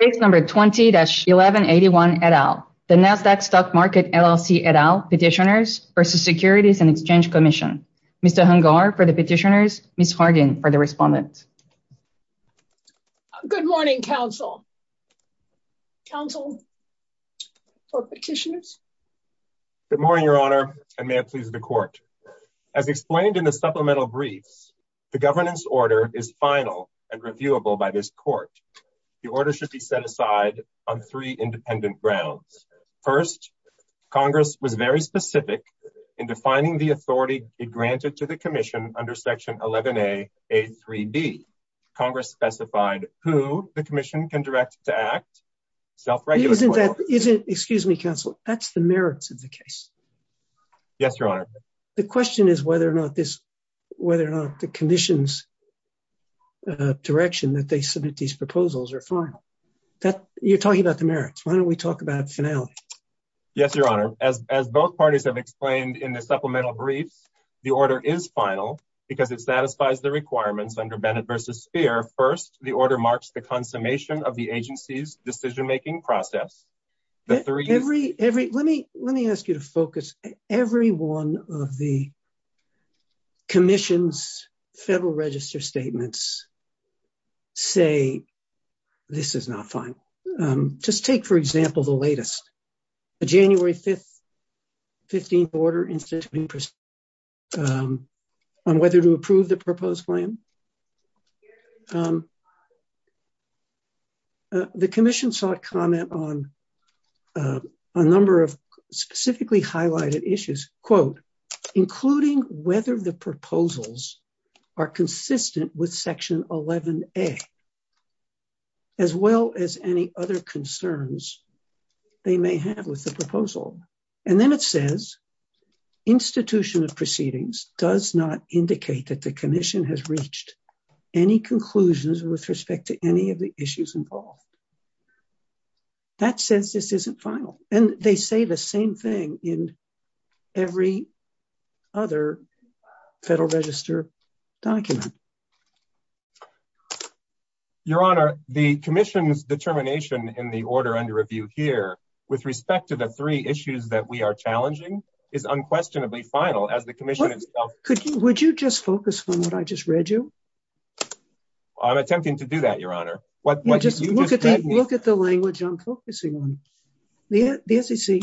Case number 20-1181 et al. The Nasdaq Stock Market LLC et al. Petitioners versus Securities and Exchange Commission. Mr. Hungar for the petitioners, Ms. Hargan for the respondents. Good morning, counsel. Counsel for petitioners. Good morning, Your Honor, and may it please the court. As explained in the supplemental briefs, the governance order is final and reviewable by this court. The order should be set aside on three independent grounds. First, Congress was very specific in defining the authority granted to the commission under section 11A, A3B. Congress specified who the commission can direct to act. Excuse me, counsel. That's the merits of the case. Yes, Your Honor. The question is whether or not the commission's direction that they submit these proposals are final. You're talking about the merits. Why don't we talk about finale? Yes, Your Honor. As both parties have explained in the supplemental briefs, the order is final because it satisfies the requirements under Bennett v. Speer. First, the order marks the consummation of the agency's decision-making process. Let me ask you to focus. Every one of the commission's federal register statements say this is not final. Just take, for example, the latest, the January 15th order on whether to approve the proposed plan. Yes, Your Honor. The commission sought comment on a number of specifically highlighted issues, quote, including whether the proposals are consistent with section 11A, as well as any other concerns they may have with the proposal. Then it says, institution of proceedings does not indicate that the commission has reached any conclusions with respect to any of the issues involved. That says this isn't final. They say the same thing in every other federal register document. Your Honor, the commission's determination in the order under review here, with respect to the three issues that we are challenging, is unquestionably final. Would you just focus on what I just read you? I'm attempting to do that, Your Honor. Look at the language I'm focusing on. The SEC,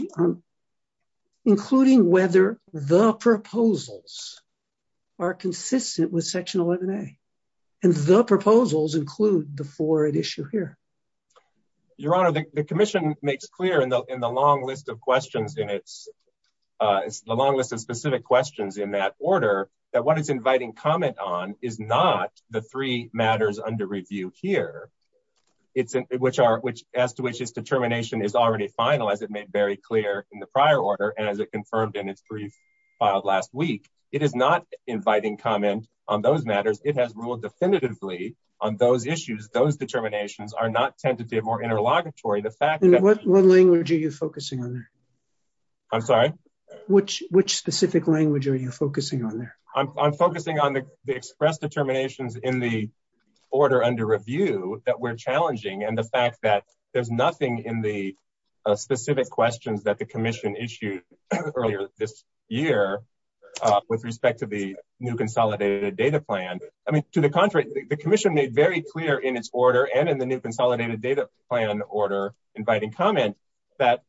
including whether the proposals are consistent with section 11A, and the proposals include the forward issue here. Your Honor, the commission makes clear in the long list of specific questions in that order that what it's inviting comment on is not the three matters under review here, as to which its determination is already final, as it made very clear in the prior order, and as it confirmed in its brief filed last week. It is not inviting comment on those matters. It has ruled definitively on those issues. Those determinations are not tentative or interlocutory. What language are you focusing on there? I'm sorry? Which specific language are you focusing on there? I'm focusing on the express determinations in the order under review that we're challenging, and the fact that there's nothing in the specific questions that the commission issued earlier this year with respect to the new consolidated data plan. I mean, to the contrary, the commission made very clear in its order and in the new consolidated data plan order inviting comment that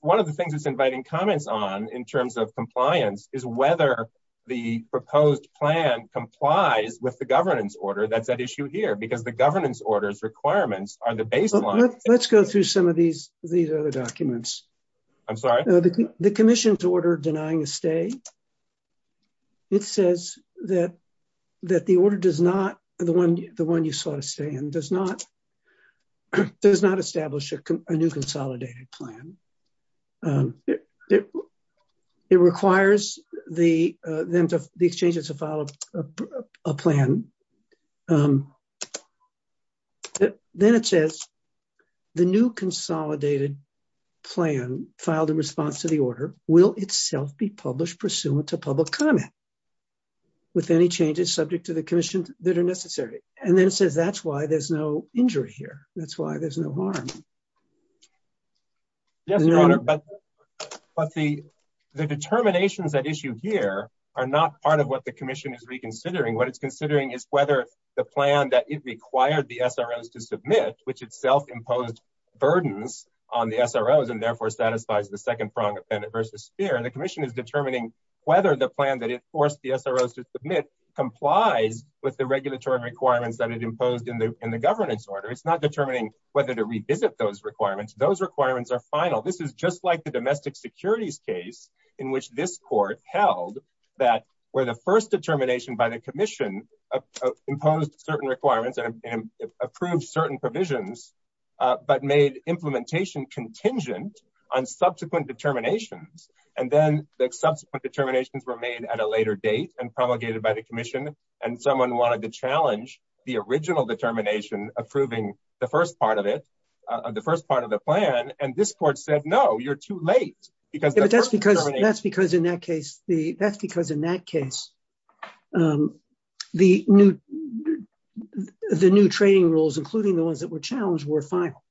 one of the things it's inviting comments on in terms of compliance is whether the proposed plan complies with the governance order that's at issue here, because the governance order's requirements are the baseline. Let's go through some of these other documents. I'm sorry? The commission's order denying a stay, it says that the order does not, the one you saw it stay in, does not establish a new consolidated plan. It requires them to exchange it as a file of a plan. Then it says the new consolidated plan filed in response to the order will itself be published pursuant to public comment with any changes subject to the commission that are necessary. Then it says that's why there's no injury here. That's why there's no harm. Yes, but the determinations at issue here are not part of what the commission is reconsidering. What it's considering is whether the plan that it required the SROs to submit, which itself imposed burdens on the SROs and therefore satisfies the second prong of benefit versus fear, and the commission is determining whether the plan that it forced the SROs to submit complies with the regulatory requirements that it imposed in the governance order. It's not determining whether to revisit those requirements. Those requirements are final. This is just like the domestic securities case in which this court held that where the first determination by the commission imposed certain requirements and approved certain provisions, but made implementation contingent on subsequent determinations. Then the subsequent determinations were made at a later date and promulgated by the commission. Someone wanted to challenge the original determination approving the first part of the plan. This court said, no, you're too late. That's because in that case, the new trading rules, including the ones that were challenged, were final.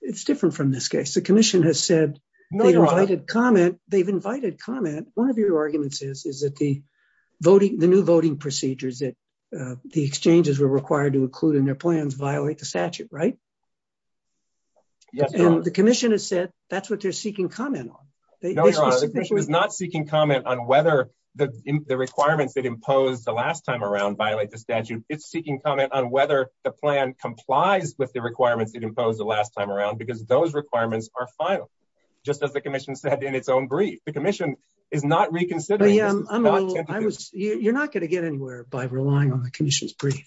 It's different from this case. The commission has said they've invited comment. One of your arguments is that the new voting procedures that the exchanges were required to include in their plans violate the statute. Yes. The commission has said that's what they're seeking comment on. No, Your Honor. The commission is not seeking comment on whether the requirements that imposed the last time around violate the statute. It's seeking comment on whether the plan complies with the requirements it imposed the last time around, because those requirements are final, just as the commission said in its own brief. The commission is not reconsidering. You're not going to get anywhere by relying on the commission's brief.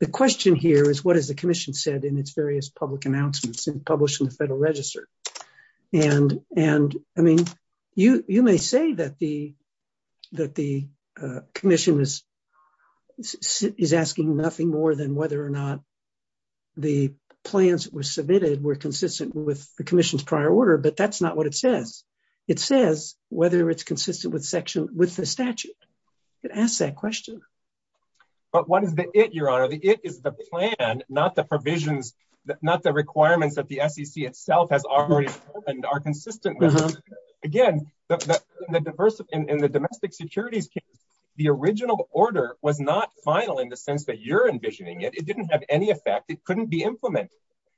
The question here is, what has the commission said in its various public announcements and published in the Federal Register? You may say that the commission is asking nothing more than whether or not the plans that were submitted were consistent with the commission's prior order, but that's not what it says. It says whether it's consistent with the statute. It asks that question. But what is the it, Your Honor? The it is the plan, not the provisions, not the requirements that the SEC itself has already determined are consistent. Again, in the domestic securities case, the original order was not final in the sense that you're envisioning it. It didn't have any effect. It couldn't be implemented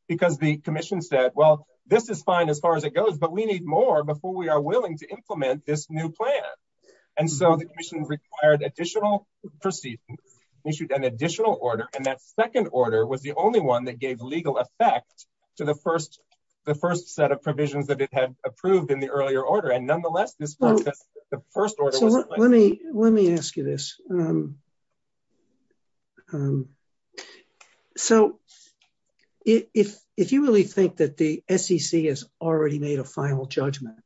because the commission said, well, this is fine as far as it goes, but we need more before we are willing to implement this new plan. And so the commission required additional proceedings, issued an additional order. And that second order was the only one that gave legal effect to the first set of provisions that it had approved in the earlier order. And nonetheless, this process, the first order was... Let me ask you this. So if you really think that the SEC has already made a final judgment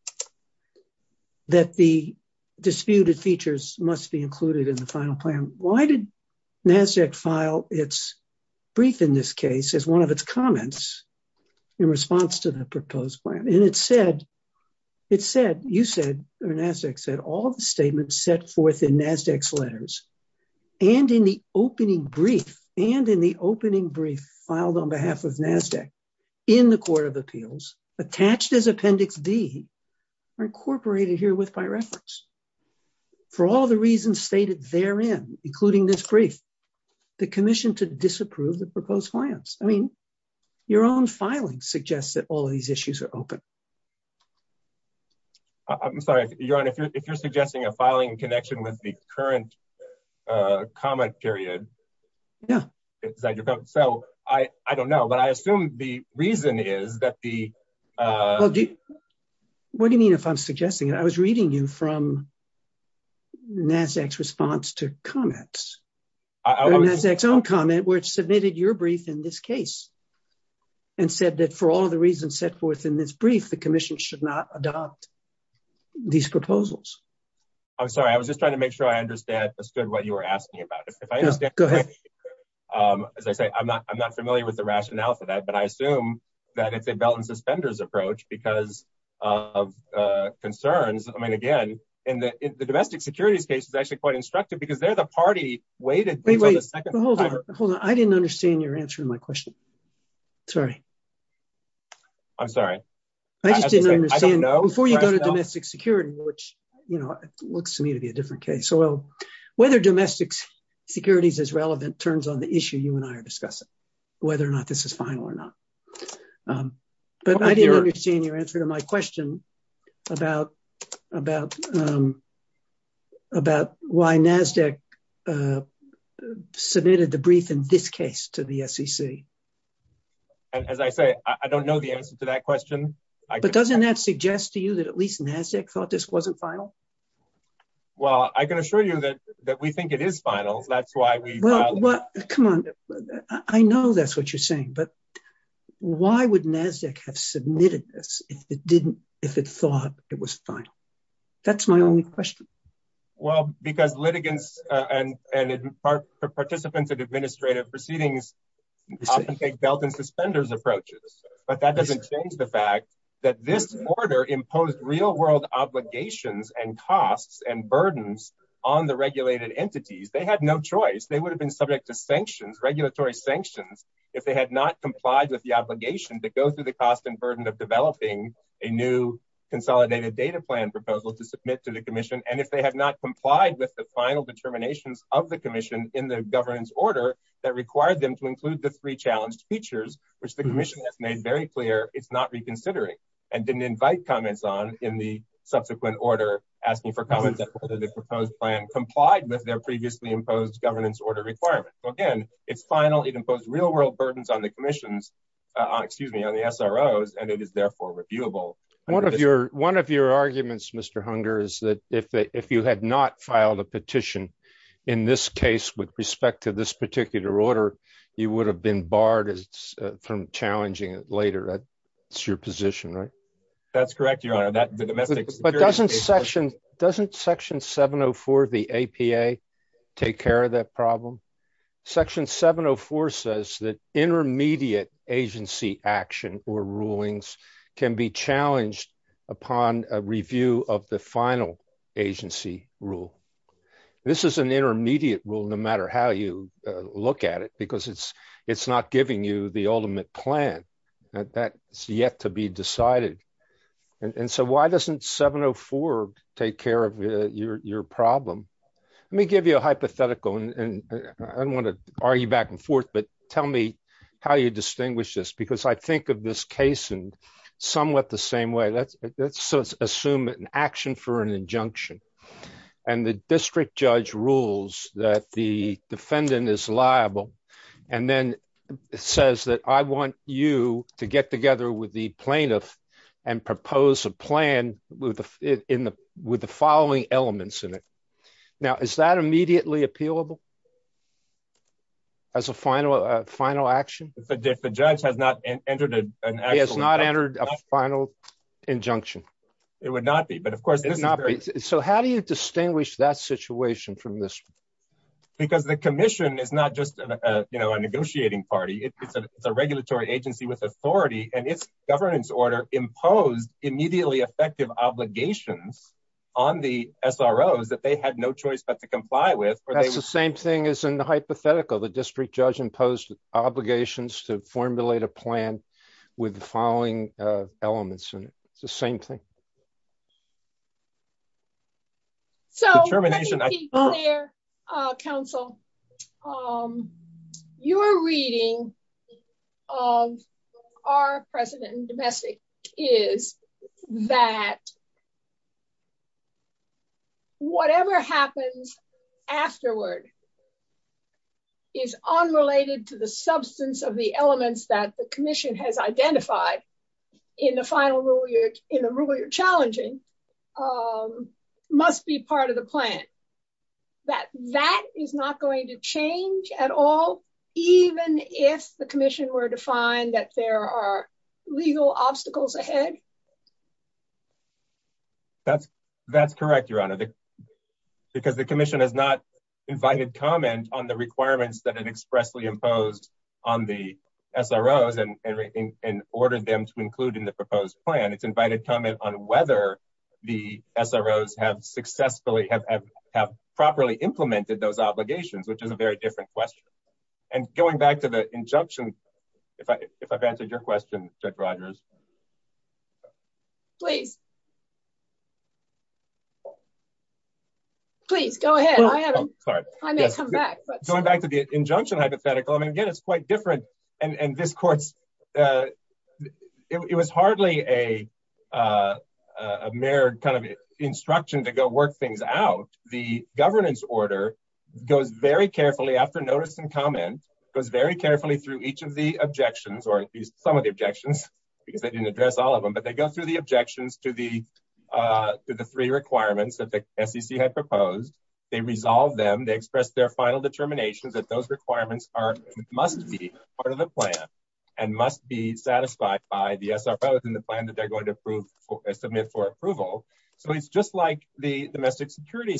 that the disputed features must be included in the final plan, why did NASDAQ file its brief in this case as one of its comments in response to the proposed plan? And it said, it said, you said, or NASDAQ said, all the statements set forth in NASDAQ's letters and in the opening brief and in the opening brief filed on behalf of NASDAQ in the court of appeals attached as appendix D are incorporated herewith by reference. For all the reasons stated therein, including this brief, the commission to disapprove the proposed plans. I mean, your own filing suggests that all of these issues are open. I'm sorry, Your Honor, if you're suggesting a filing connection with the current comment period. Yeah. So I don't know, but I assume the reason is that the... What do you mean if I'm suggesting it? I was reading you from NASDAQ's response to comments. NASDAQ's own comment, which submitted your brief in this case and said that for all of the reasons set forth in this brief, the commission should not adopt these proposals. I'm sorry. I was just trying to make sure I understood what you were asking about. As I say, I'm not, I'm not familiar with the rationale for that, but I assume that it's a belt and suspenders approach because of concerns. I mean, again, in the domestic securities case is actually quite instructive because they're the party weighted... Wait, wait, hold on. Hold on. I didn't understand your answer to my question. Sorry. I'm sorry. I just didn't understand. Before you go to domestic security, which looks to me to be a different case. So whether domestic securities is relevant turns on the issue you and I are discussing, whether or not this is final or not. But I didn't understand your answer to my question about why NASDAQ submitted the brief in this case to the SEC. And as I say, I don't know the answer to that question. Well, I can assure you that we think it is final. That's why we... Come on. I know that's what you're saying, but why would NASDAQ have submitted this if it didn't, if it thought it was final? That's my only question. Well, because litigants and and participants of administrative proceedings often take belt and suspenders approaches, but that doesn't change the fact that this order imposed real world obligations and costs and burdens on the regulated entities. They had no choice. They would have been subject to sanctions, regulatory sanctions, if they had not complied with the obligation to go through the cost and burden of developing a new consolidated data plan proposal to submit to the commission. And if they had not complied with the final determinations of the commission in the governance order that required them to include the three challenged features, which the commission has made very clear it's not reconsidering and didn't invite comments on in the subsequent order asking for comments on whether the proposed plan complied with their previously imposed governance order requirements. Again, it's final. It imposed real world burdens on the commissions, excuse me, on the SROs, and it is therefore reviewable. One of your arguments, Mr. Hunger, is that if you had not filed a petition in this case with respect to this particular order, you would have been barred from challenging it later. It's your position, right? That's correct, your honor. But doesn't section 704 of the APA take care of that problem? Section 704 says that intermediate agency action or rulings can be challenged upon a review of the final agency rule. This is an intermediate rule, no matter how you look at it, because it's not giving you the ultimate plan. That's yet to be decided. And so why doesn't 704 take care of your problem? Let me give you a hypothetical, and I don't want to argue back and forth, but tell me how you distinguish this, because I think of this case in somewhat the same way. Let's assume an action for an injunction, and the district judge rules that the defendant is liable and then says that I want you to get together with the plaintiff and propose a plan with the following elements in it. Now, is that immediately appealable? As a final action? If the judge has not entered an action. It would not be. So how do you distinguish that situation from this? Because the commission is not just a negotiating party, it's a regulatory agency with authority, and its governance order imposed immediately effective obligations on the SROs that they had no choice but to comply with. That's the same thing as in the hypothetical, the district judge imposed obligations to formulate a plan with the following elements, it's the same thing. So let me be clear, counsel, your reading of our precedent in domestic is that whatever happens afterward is unrelated to the substance of the elements that the commission has identified in the rule you're challenging, must be part of the plan. That that is not going to change at all, even if the commission were to find that there are legal obstacles ahead? That's correct, Your Honor, because the commission has not invited comment on the order them to include in the proposed plan, it's invited comment on whether the SROs have successfully have have properly implemented those obligations, which is a very different question. And going back to the injunction, if I if I've answered your question, Judge Rogers. Please. Please go ahead. I haven't come back, but going back to the injunction hypothetical, again, it's quite different. And this court's it was hardly a mirrored kind of instruction to go work things out. The governance order goes very carefully after notice and comment goes very carefully through each of the objections, or at least some of the objections, because they didn't address all of them. But they go through the objections to the to the three requirements that the SEC had proposed. They resolve them, express their final determinations that those requirements are must be part of the plan, and must be satisfied by the SROs in the plan that they're going to approve, submit for approval. So it's just like the domestic security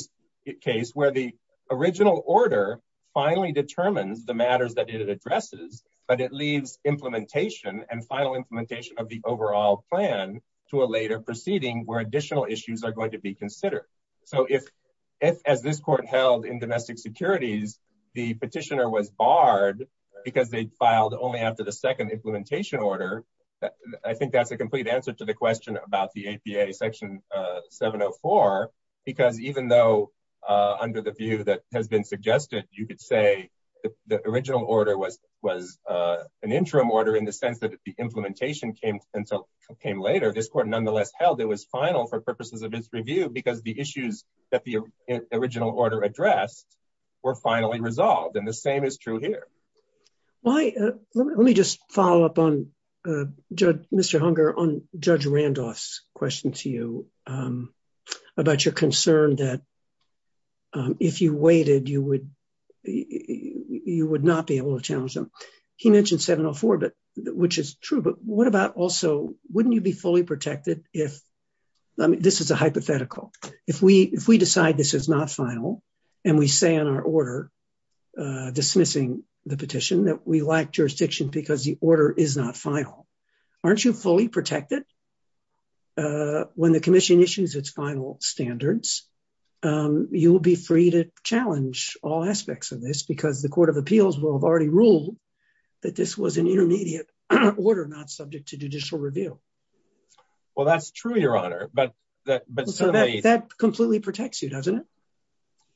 case where the original order finally determines the matters that it addresses, but it leaves implementation and final implementation of the overall plan to a later proceeding where additional issues are going to be considered. So if, as this court held in domestic securities, the petitioner was barred, because they filed only after the second implementation order. I think that's a complete answer to the question about the APA section 704. Because even though under the view that has been suggested, you could say the original order was was an interim order in the sense that the implementation came until came later, this court nonetheless held it was final for purposes of its review because the issues that the original order addressed were finally resolved. And the same is true here. Why? Let me just follow up on Mr. Hunger on Judge Randolph's question to you about your concern that if you waited, you would you would not be able to challenge them. He mentioned 704, but which is true. But what about also wouldn't you be fully protected if this is a hypothetical? If we if we decide this is not final, and we say in our order, dismissing the petition that we like jurisdiction because the order is not final, aren't you fully protected? When the commission issues its final standards, you will be free to challenge all aspects of this because the Court of Appeals will have already ruled that this was an intermediate order not subject to judicial review. Well, that's true, Your Honor, but that but that completely protects you, doesn't it?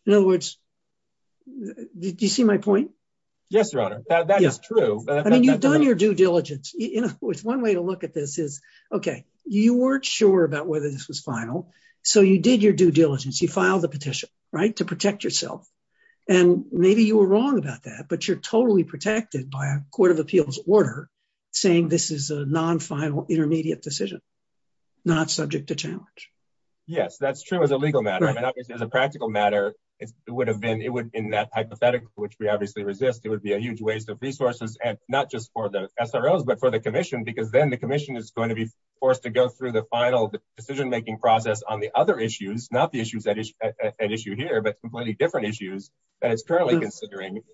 In other words, did you see my point? Yes, Your Honor, that is true. I mean, you've done your due diligence, you know, with one way to look at this is, okay, you weren't sure about whether this was final. So you did your due diligence, you filed the petition, right to protect yourself. And maybe you were wrong about that. But you're totally protected by a Court of Appeals order, saying this is a non final intermediate decision, not subject to challenge. Yes, that's true as a legal matter. And obviously, as a practical matter, it would have been it would in that hypothetical, which we obviously resist, it would be a huge waste of resources, and not just for the SROs, but for the commission, because then the commission is going to be forced to go through the final decision making process on the other issues, not the issues that is an issue here, but completely different issues that is currently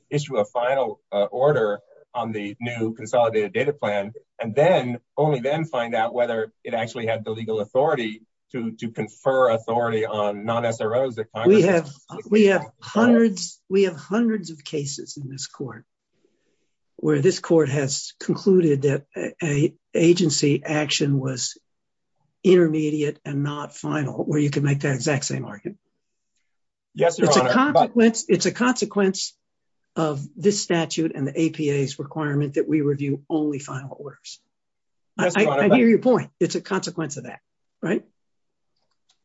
issue a final order on the new consolidated data plan, and then only then find out whether it actually had the legal authority to confer authority on non SROs that we have, we have hundreds, we have hundreds of cases in this court, where this court has concluded that agency action was intermediate and not final where you can make that exact same argument. Yes, it's a consequence of this statute and the APA's requirement that we review only final orders. I hear your point, it's a consequence of that, right?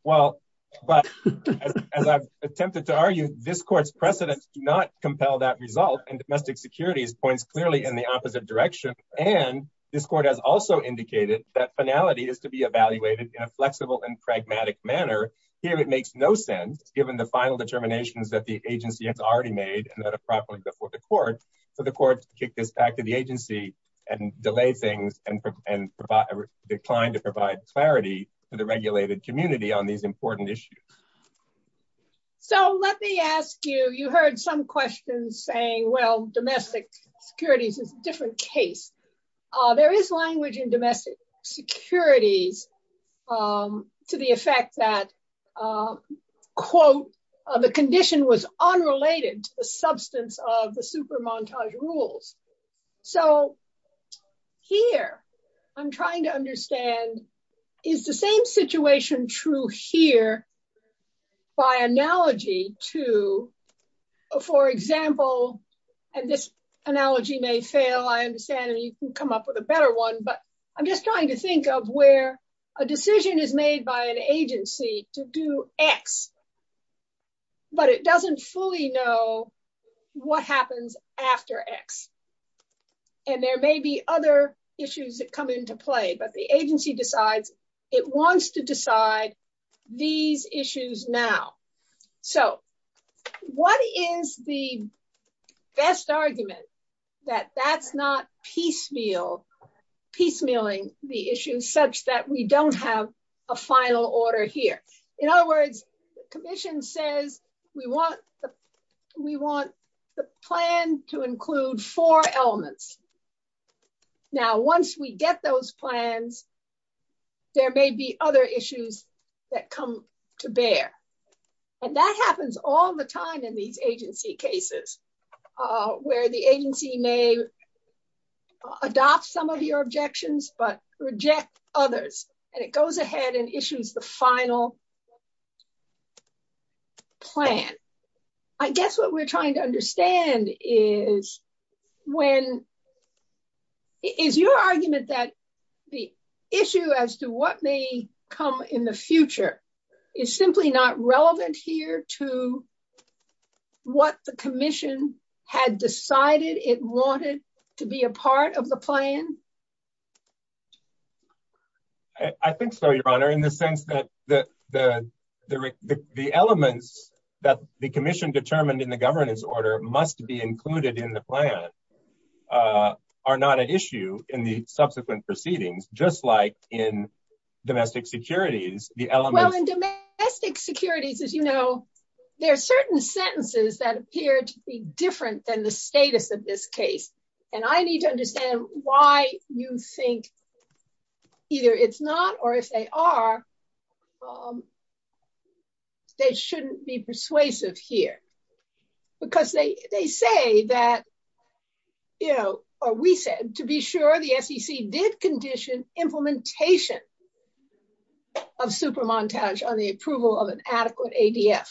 Well, but as I've attempted to argue, this court's precedents do not compel that result. And domestic securities points clearly in the opposite direction. And this court has also indicated that finality is to be evaluated in a flexible and pragmatic manner. Here, it makes no sense, given the final determinations that the agency has already made, and that are properly before the court, for the court to kick this back to the agency and delay things and decline to provide clarity to the regulated community on these important issues. So let me ask you, you heard some questions saying, well, domestic securities is a different case. There is language in domestic securities, to the effect that quote, the condition was unrelated to the substance of the super montage rules. So here, I'm trying to understand, is the same situation true here by analogy to, for example, and this analogy may fail, I understand, and you can come up with a better one. But I'm just trying to think of where a decision is made by an agency to do x, but it doesn't fully know what happens after x. And there may be other issues that come into play, but the agency decides it wants to decide these issues now. So what is the best argument that that's not piecemeal, piecemealing the issue such that we don't have a final order here. In other words, the commission says, we want the plan to include four elements. Now, once we get those plans, there may be other issues that come to bear. And that happens all the time in these agency cases, where the agency may adopt some of your objections, but reject others, and it goes ahead and issues the final plan. I guess what we're trying to understand is when is your argument that the issue as to what may come in the future is simply not relevant here to what the commission had decided it wanted to be a part of the plan? I think so, Your Honor, in the sense that the elements that the commission determined in the governance order must be included in the plan are not an issue in the subsequent proceedings, just like in domestic securities. Well, in domestic securities, as you know, there are certain sentences that appear to be different than the status of this case. And I need to understand why you think either it's not or if they are, they shouldn't be persuasive here. Because they say that, you know, we said to be sure the SEC did condition implementation of super montage on the approval of an adequate ADF.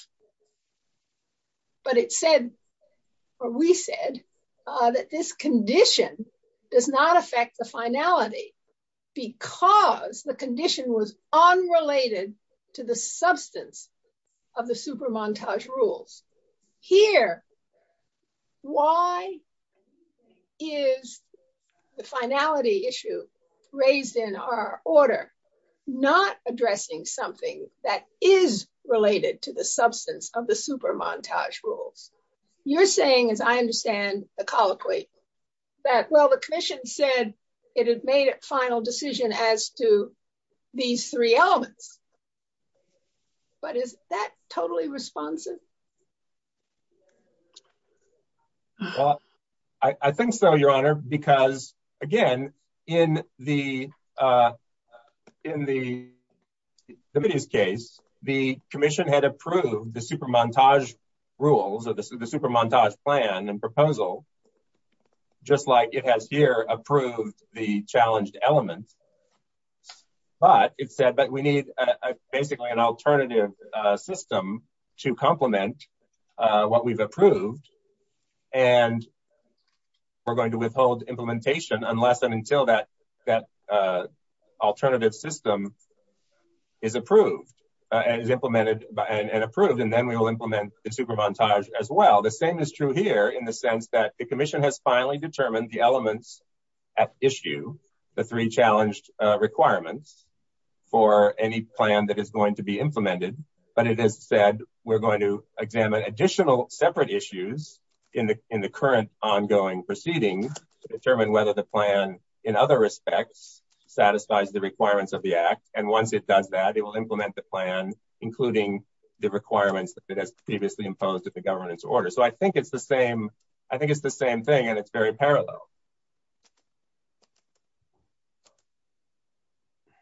But it said, or we said, that this condition does not affect the finality, because the condition was raised in our order, not addressing something that is related to the substance of the super montage rules. You're saying, as I understand the colloquy, that, well, the commission said, it had made a final decision as to these three elements. But is that totally responsive? Well, I think so, Your Honor, because, again, in the, in the case, the commission had approved the super montage rules of the super montage plan and proposal, just like it has here approved the challenged element. But it said, but we need basically an alternative system to complement what we've approved. And we're going to withhold implementation unless and until that, that alternative system is approved, and is implemented and approved. And then we will implement the super montage as well. The same is true here in the sense that the commission has finally determined the elements at issue, the three challenged requirements for any plan that is to be implemented. But it has said, we're going to examine additional separate issues in the in the current ongoing proceedings to determine whether the plan, in other respects, satisfies the requirements of the Act. And once it does that, it will implement the plan, including the requirements that it has previously imposed at the governance order. So I think it's the same. I think it's the same thing. And it's very parallel.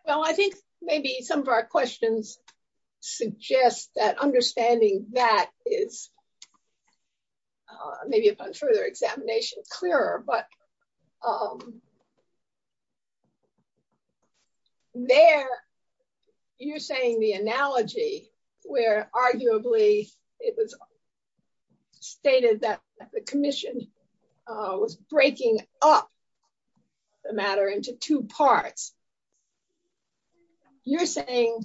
Well, I think maybe some of our questions suggest that understanding that is maybe upon further examination clearer, but there, you're saying the analogy, where arguably, it was stated that the commission was breaking up the matter into two parts. You're saying,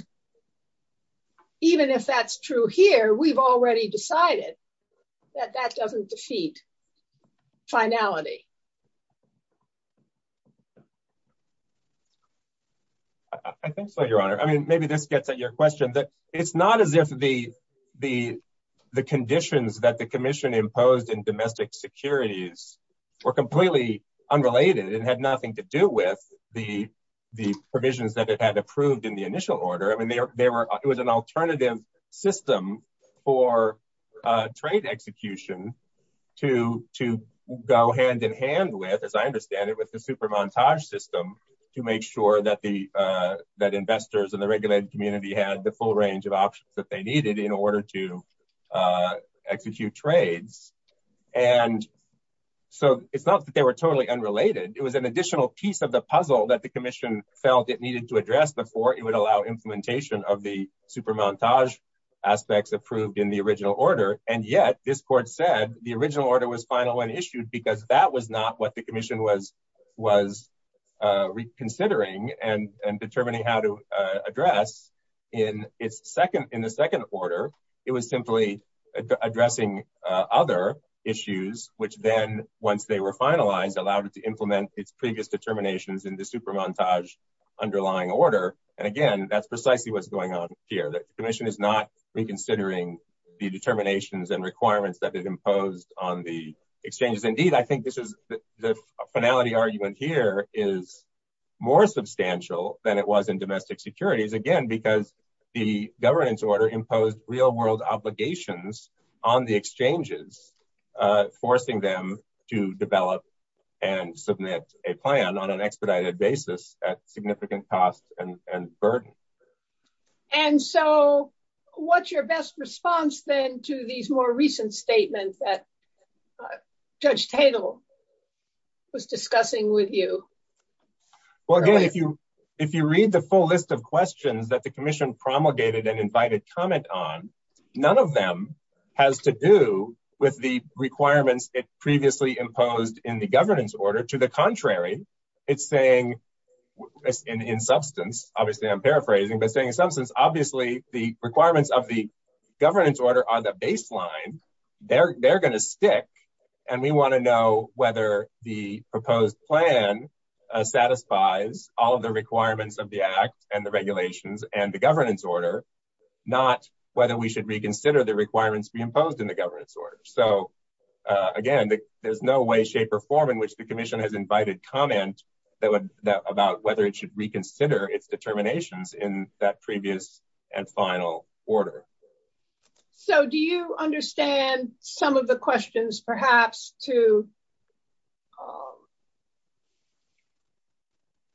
even if that's true here, we've already decided that that doesn't defeat finality. I think so, Your Honor, I mean, maybe this gets at your question that it's not as if the, the, commission imposed in domestic securities were completely unrelated and had nothing to do with the, the provisions that it had approved in the initial order. I mean, there were, it was an alternative system for trade execution to, to go hand in hand with, as I understand it, with the super montage system to make sure that the, that investors and the regulated community had the full range of options that they needed in order to execute trades. And so it's not that they were totally unrelated. It was an additional piece of the puzzle that the commission felt it needed to address before it would allow implementation of the super montage aspects approved in the original order. And yet this court said the original order was final when issued because that was not what the commission was, was reconsidering and determining how to in its second, in the second order, it was simply addressing other issues, which then once they were finalized, allowed it to implement its previous determinations in the super montage underlying order. And again, that's precisely what's going on here. The commission is not reconsidering the determinations and requirements that it imposed on the exchanges. Indeed, I think this is the finality argument here is more substantial than it was in domestic securities again, because the governance order imposed real world obligations on the exchanges, forcing them to develop and submit a plan on an expedited basis at significant cost and burden. And so what's your best response then to these more recent statements that Judge Tatel was discussing with you? Well, again, if you, if you read the full list of questions that the commission promulgated and invited comment on, none of them has to do with the requirements it previously imposed in the governance order to the contrary. It's saying in substance, obviously I'm paraphrasing, but saying in substance, obviously the requirements of the governance order are the baseline. They're, they're going to stick. And we want to know whether the proposed plan satisfies all of the requirements of the act and the regulations and the governance order, not whether we should reconsider the requirements we imposed in the governance order. So again, there's no way, shape or form in which the commission has invited comment that would about whether it should reconsider its determinations in that previous and final order. So do you understand some of the questions perhaps to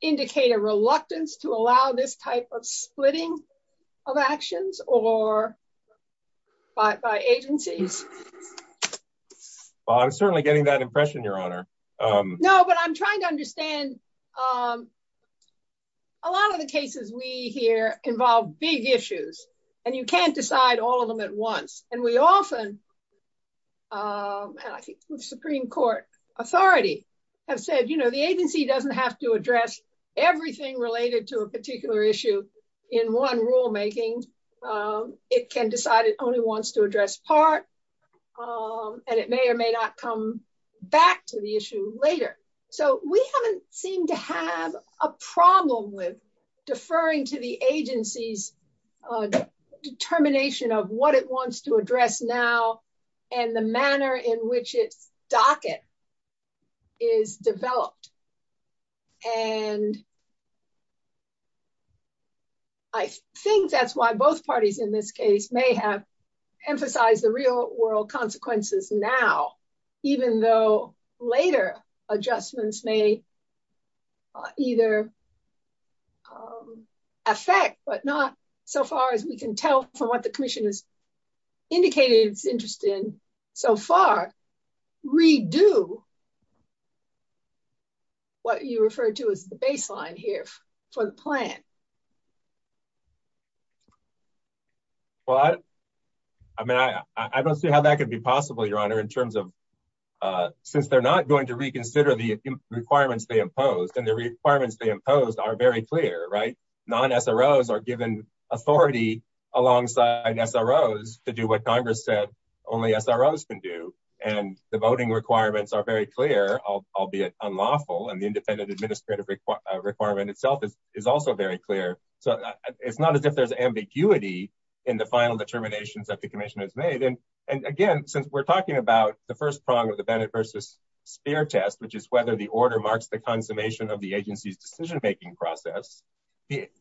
indicate a reluctance to allow this type of splitting of actions or by agencies? Well, I'm certainly getting that impression, Your Honor. No, but I'm trying to understand a lot of the cases we hear involve big issues and you can't decide all of them at once. And we often, and I think the Supreme Court authority have said, you know, the agency doesn't have to address everything related to a particular issue in one rulemaking. It can decide it only wants to address part and it may or may not come back to the issue later. So we haven't seemed to have a problem with deferring to the agency's determination of what it wants to address now and the manner in which its docket is developed. And I think that's why both parties in this case may have emphasized the real world consequences now, even though later adjustments may either affect, but not so far as we can tell from what the commission has indicated its interest in so far redo what you referred to as the baseline here for the plan. Well, I mean, I don't see how that could be possible, Your Honor, in terms of since they're not going to reconsider the requirements they imposed and the requirements they imposed are very clear, right? Non-SROs are given authority alongside SROs to do what Congress said only SROs can do. And the voting requirements are very clear, albeit unlawful, and the independent administrative requirement itself is also very clear. So it's not as if there's ambiguity in the final determinations that the commission has made. And again, since we're talking about the first prong of the Bennett versus Speer test, which is whether the order marks the consummation of the agency's decision-making process,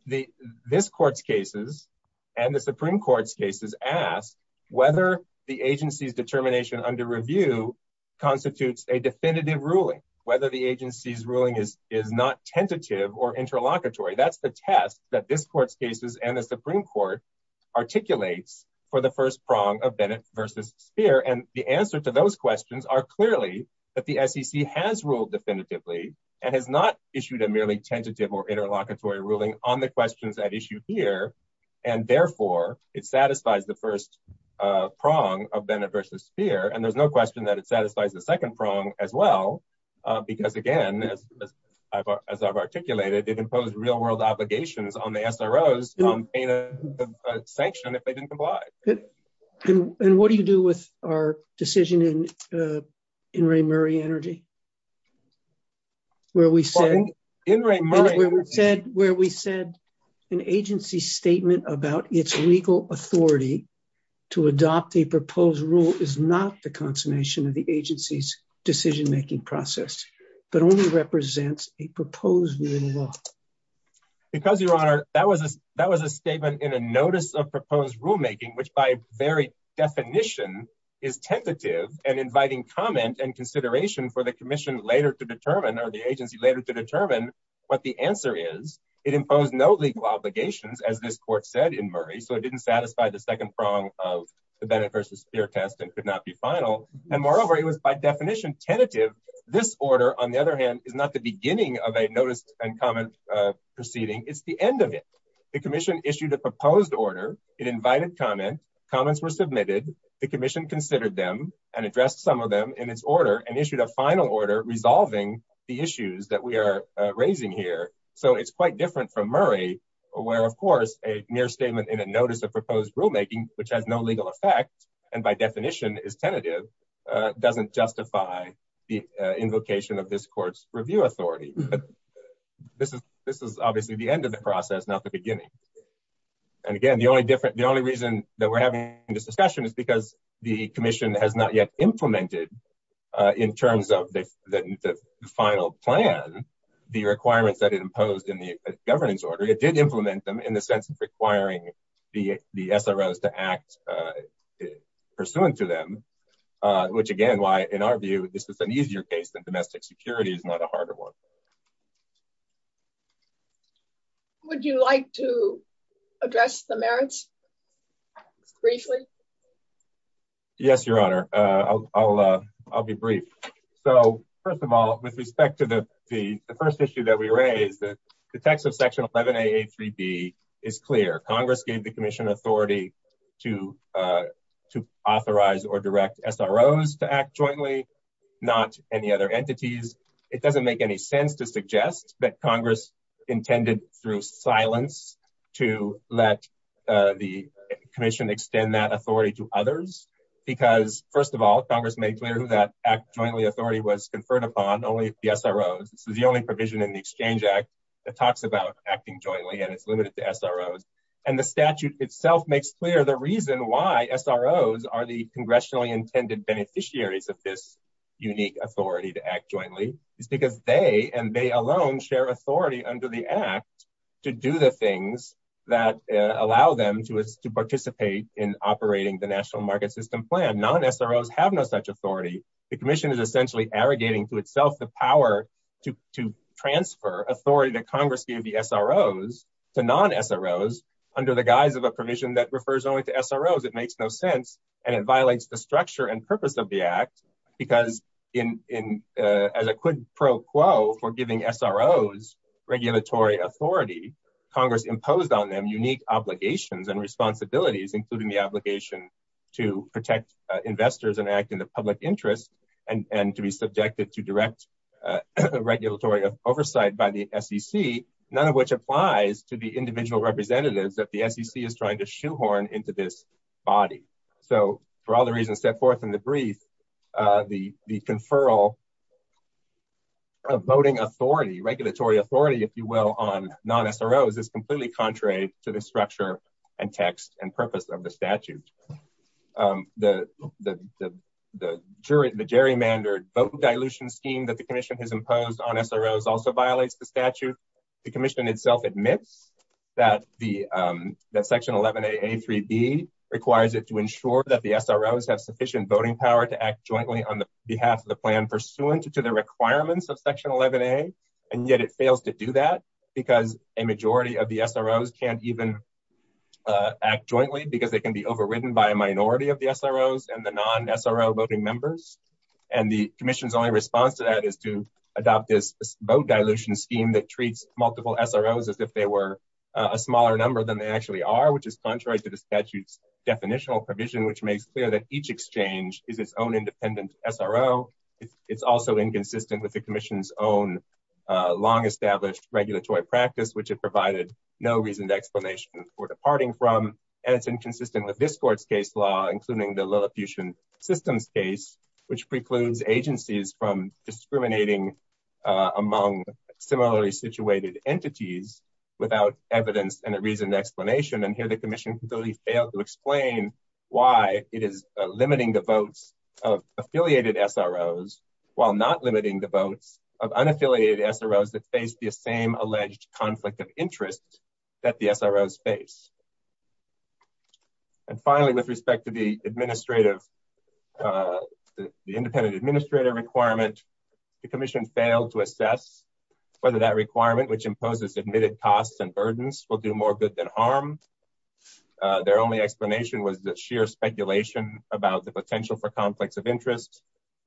this court's cases and the Supreme Court's cases ask whether the agency's determination under review constitutes a definitive ruling, whether the agency's ruling is not tentative or interlocutory. That's the test that this court's cases and the Supreme Court articulates for the first prong of the SROs. And the answer to those questions are clearly that the SEC has ruled definitively and has not issued a merely tentative or interlocutory ruling on the questions at issue here. And therefore, it satisfies the first prong of Bennett versus Speer. And there's no question that it satisfies the second prong as well, because again, as I've articulated, it imposed real-world obligations on the SROs on payment of sanction if they didn't comply. And what do you do with our decision in Ray Murray Energy, where we said an agency statement about its legal authority to adopt a proposed rule is not the consummation of the agency's decision-making process, but only represents a proposed rule in law? Because, Your Honor, that was a statement in a notice of very definition is tentative and inviting comment and consideration for the commission later to determine or the agency later to determine what the answer is. It imposed no legal obligations, as this court said in Murray, so it didn't satisfy the second prong of the Bennett versus Speer test and could not be final. And moreover, it was by definition tentative. This order, on the other hand, is not the beginning of a notice and comment proceeding. It's the end of it. The commission issued a proposed order. It invited comment. Comments were submitted. The commission considered them and addressed some of them in its order and issued a final order resolving the issues that we are raising here. So it's quite different from Murray, where, of course, a mere statement in a notice of proposed rulemaking, which has no legal effect and by definition is tentative, doesn't justify the invocation of this court's review authority. This is obviously the end of the process, not the beginning. And again, the only reason that we're having this discussion is because the commission has not yet implemented in terms of the final plan, the requirements that it imposed in the governance order. It did implement them in the sense of requiring the SROs to act pursuant to them, which again, why in our view, this was an easier case than domestic security is not a harder one. Would you like to address the merits briefly? Yes, Your Honor. I'll be brief. So first of all, with respect to the first issue that we raised, the text of section 11 A, A3B is clear. Congress gave the commission authority to authorize or direct SROs to act jointly, not any other entities. It doesn't make any sense to suggest that Congress intended through silence to let the commission extend that authority to others. Because first of all, Congress made clear that act jointly authority was conferred upon only the SROs. This is the only provision in the Exchange Act that talks about acting jointly and it's limited to SROs. And the statute itself makes clear the reason why SROs are the congressionally intended beneficiaries of this unique authority to act jointly is because they and they alone share authority under the act to do the things that allow them to participate in operating the national market system plan. Non-SROs have no such authority. The commission is essentially arrogating to itself the power to transfer authority that Congress gave the SROs to non-SROs under the guise of a provision that refers only to SROs. It makes no sense and it violates the structure and purpose of the act because in, as a quid pro quo for giving SROs regulatory authority, Congress imposed on them unique obligations and responsibilities, including the obligation to protect investors and act in the public interest and to be subjected to direct regulatory oversight by the SEC, none of which applies to the individual representatives that the SEC is trying to shoehorn into this body. So for all the reasons set forth in the brief, the conferral of voting authority, regulatory authority, if you will, on non-SROs is completely contrary to the structure and text and purpose of the statute. The jury, the gerrymandered vote dilution scheme that the commission has imposed on SROs also violates the statute. The commission itself admits that section 11a a3b requires it to ensure that the SROs have sufficient voting power to act jointly on the behalf of the plan pursuant to the requirements of section 11a and yet it fails to do that because a majority of the SROs can't even act jointly because they can be overridden by a minority of the SROs and the vote dilution scheme that treats multiple SROs as if they were a smaller number than they actually are, which is contrary to the statute's definitional provision, which makes clear that each exchange is its own independent SRO. It's also inconsistent with the commission's own long-established regulatory practice, which it provided no reason to explanation for departing from and it's inconsistent with this court's case law, including the Lilliputian systems case, which precludes agencies from discriminating among similarly situated entities without evidence and a reasoned explanation and here the commission failed to explain why it is limiting the votes of affiliated SROs while not limiting the votes of unaffiliated SROs that face the same alleged conflict of interest that the SROs face. And finally, with respect to the independent administrator requirement, the commission failed to assess whether that requirement, which imposes admitted costs and burdens, will do more good than harm. Their only explanation was the sheer speculation about the potential for conflicts of interest,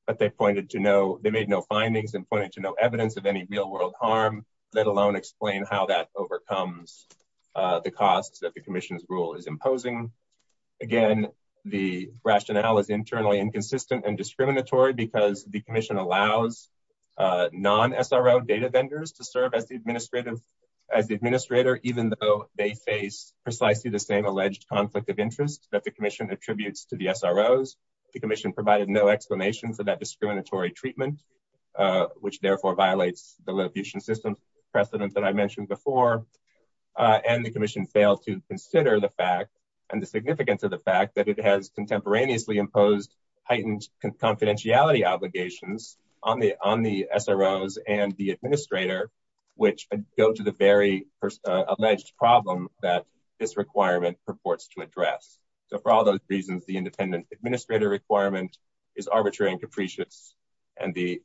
but they made no findings and pointed to no evidence of any real-world harm, let alone explain how that overcomes the costs that the commission's rule is imposing. Again, the rationale is internally inconsistent and discriminatory because the commission allows non-SRO data vendors to serve as the administrator, even though they face precisely the same alleged conflict of interest that the commission attributes to the SROs. The commission provided no explanation for that discriminatory treatment, which therefore violates the Lilliputian system precedent that I mentioned before, and the commission failed to consider the fact and the significance of the fact that it has contemporaneously imposed heightened confidentiality obligations on the SROs and the administrator, which go to the very alleged problem that this requirement purports to address. So for all those reasons, the independent administrator requirement is arbitrary and capricious, and the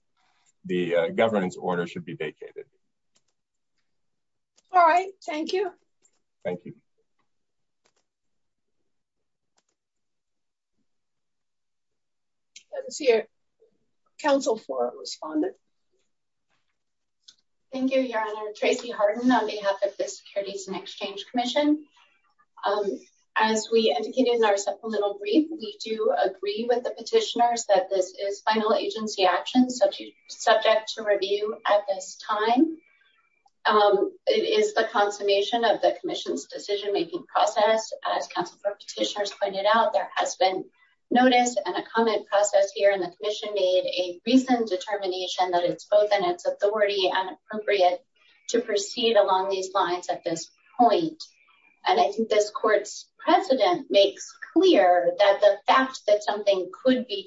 governance order should be vacated. All right, thank you. Thank you. Let's hear Council for a respondent. Thank you, Your Honor. Tracy Harden on behalf of the Securities and Exchange Commission. As we indicated in our supplemental brief, we do agree with the petitioners that this final agency action is subject to review at this time. It is the consummation of the commission's decision-making process. As Council for Petitioners pointed out, there has been notice and a comment process here, and the commission made a recent determination that it's both in its authority and appropriate to proceed along these lines at this point. And I think this court's precedent makes clear that the fact that something could be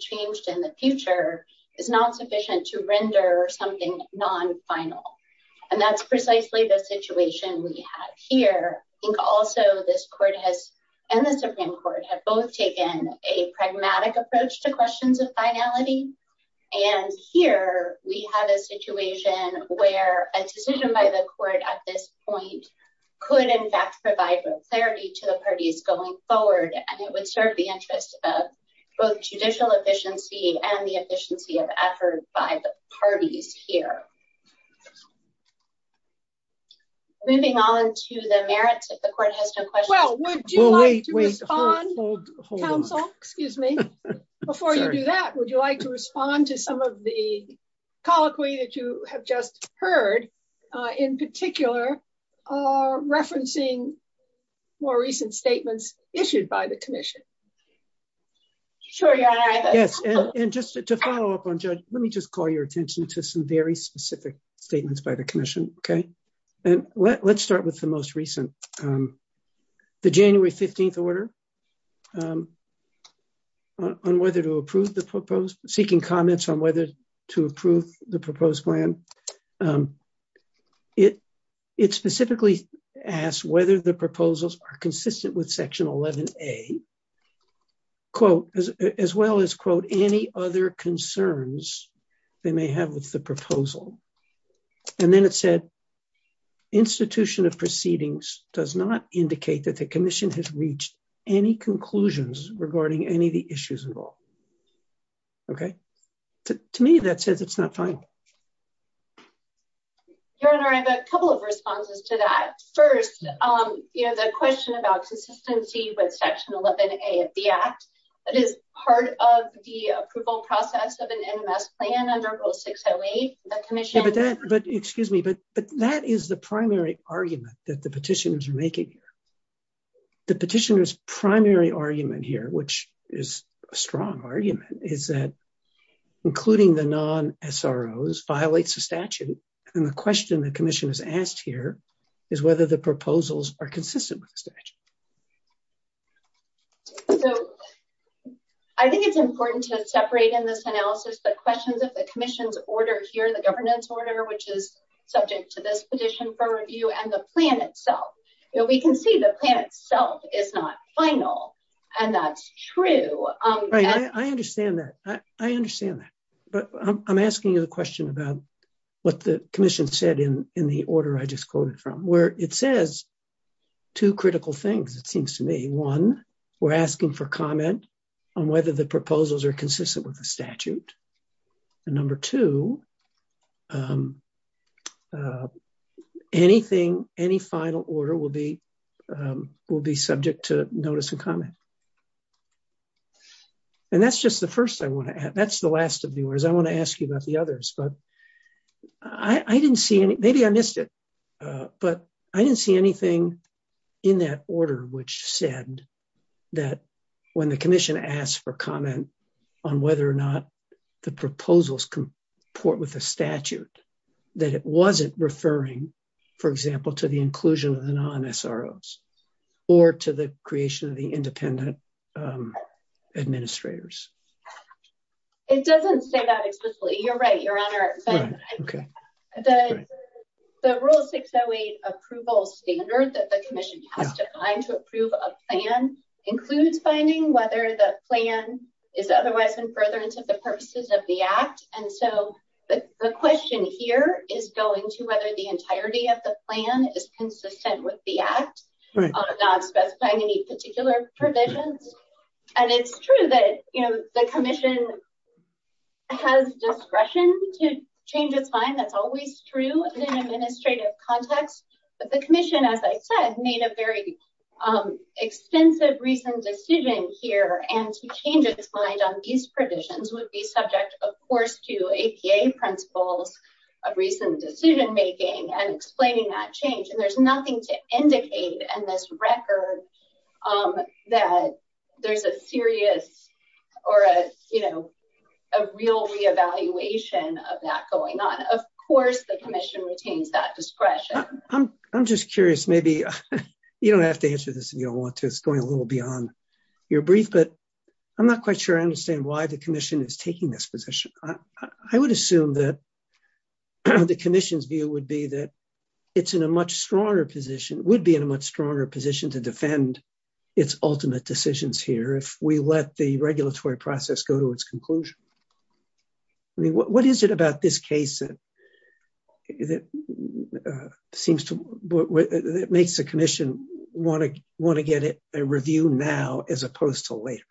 is not sufficient to render something non-final. And that's precisely the situation we have here. I think also this court has, and the Supreme Court, have both taken a pragmatic approach to questions of finality. And here we have a situation where a decision by the court at this point could in fact provide clarity to the parties going forward, and it would serve the interest of both judicial efficiency and the efficiency of effort by the parties here. Moving on to the merits, if the court has no questions. Well, would you like to respond, Counsel? Excuse me. Before you do that, would you like to respond to some of the colloquy that you have just heard, in particular, are referencing more recent statements issued by the commission? Yes, and just to follow up on Judge, let me just call your attention to some very specific statements by the commission, okay? And let's start with the most recent. The January 15th order on whether to approve the proposed, seeking comments on whether to approve the proposed plan. And it specifically asked whether the proposals are consistent with Section 11A, as well as, quote, any other concerns they may have with the proposal. And then it said, institution of proceedings does not indicate that the commission has reached any conclusions regarding any of the issues involved, okay? To me, that says it's not final. Your Honor, I have a couple of responses to that. First, the question about consistency with Section 11A of the Act, that is part of the approval process of an NMS plan under Rule 608, the commission. Yeah, but that, but excuse me, but that is the primary argument that the petitioners are making here. The petitioner's primary argument here, which is a strong argument, is that including the non-SROs violates the statute. And the question the commission has asked here is whether the proposals are consistent with the statute. So I think it's important to separate in this analysis the questions of the commission's order here, the governance order, which is subject to this petition for review and the plan itself. We can see the plan itself is not final, and that's true. Right, I understand that. I understand that. But I'm asking you the question about what the commission said in the order I just quoted from, where it says two critical things, it seems to me. One, we're asking for comment on whether the proposals are consistent with the statute. And number two, anything, any final order will be subject to notice and comment. And that's just the first I want to add. That's the last of the orders. I want to ask you about the others. But I didn't see any, maybe I missed it, but I didn't see anything in that order which said that when the commission asked for comment on whether or not the proposals comport with the statute, that it wasn't referring, for example, to the inclusion of the non-SROs or to the creation of the independent administrators. It doesn't say that explicitly. You're right, your honor. The rule 608 approval standard that the commission has to find to approve a plan includes finding whether the plan is otherwise in furtherance of the purposes of the act. And so the question here is going to whether the entirety of the plan is consistent with the act, not specifying any particular provisions. And it's true that the commission has discretion to change its mind. That's always true in an administrative context. But the commission, as I said, made a very extensive recent decision here. And to change its mind on these provisions would be subject, of course, to APA principles of recent decision making and explaining that change. And there's nothing to indicate in this record that there's a serious or a, you know, a real reevaluation of that going on. Of course, the commission retains that discretion. I'm just curious. Maybe you don't have to answer this if you don't want to. It's going a little beyond your brief. But I'm not quite sure I understand why the commission is taking this position. I would assume that the commission's view would be that it's in a much stronger position, would be in a much stronger position to defend its ultimate decisions here if we let the regulatory process go to its conclusion. I mean, what is it about this case that seems to make the commission want to get a review now as opposed to later?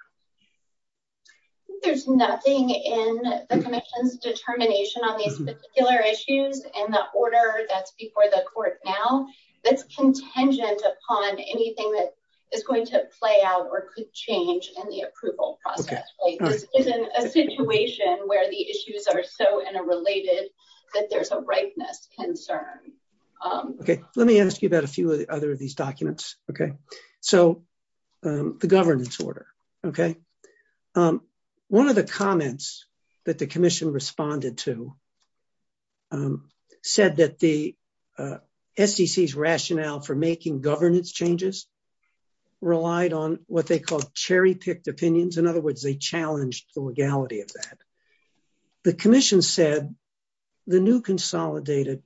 I think there's nothing in the commission's determination on these particular issues and the order that's before the court now that's contingent upon anything that is going to play out or could change in the approval process. This isn't a situation where the issues are so interrelated that there's a ripeness concern. OK, let me ask you about a few of the other of these documents. OK, so the governance order. OK, one of the comments that the commission responded to said that the SEC's rationale for making governance changes relied on what they call cherry-picked opinions. In other words, they challenged the legality of that. The commission said the new consolidated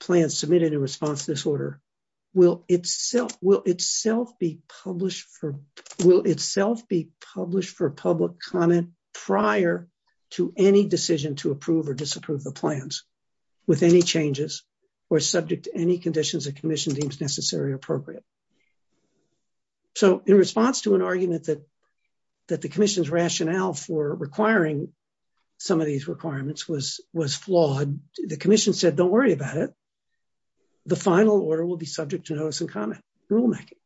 plan submitted in response to this order will itself be published for public comment prior to any decision to approve or disapprove the plans with any changes or subject to any conditions the commission deems necessary or appropriate. So in response to an argument that the commission's rationale for requiring some of these requirements was flawed, the commission said, don't worry about it. The final order will be subject to notice and comment rulemaking.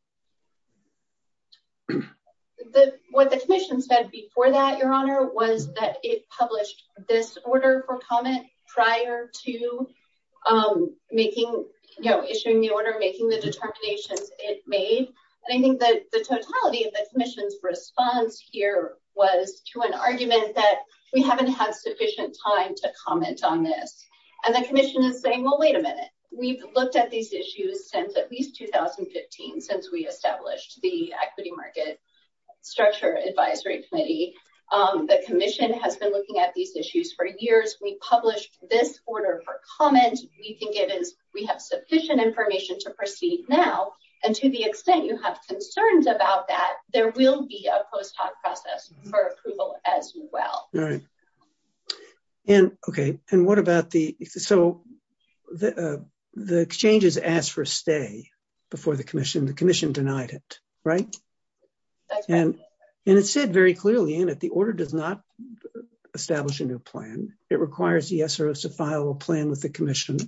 What the commission said before that, Your Honor, was that it published this order for comment prior to issuing the order, making the determinations it made. And I think that the totality of the commission's response here was to an argument that we haven't had sufficient time to comment on this. And the commission is saying, well, wait a minute. We've looked at these issues since at least 2015, since we established the Equity Market Structure Advisory Committee. The commission has been looking at these issues for years. We published this order for comment. We think we have sufficient information to proceed now. And to the extent you have concerns about that, there will be a post hoc process for approval as well. All right. And OK. And what about the... So the exchanges asked for a stay before the commission. The commission denied it, right? And it said very clearly in it, the order does not establish a new plan. It requires the SROs to file a plan with the commission.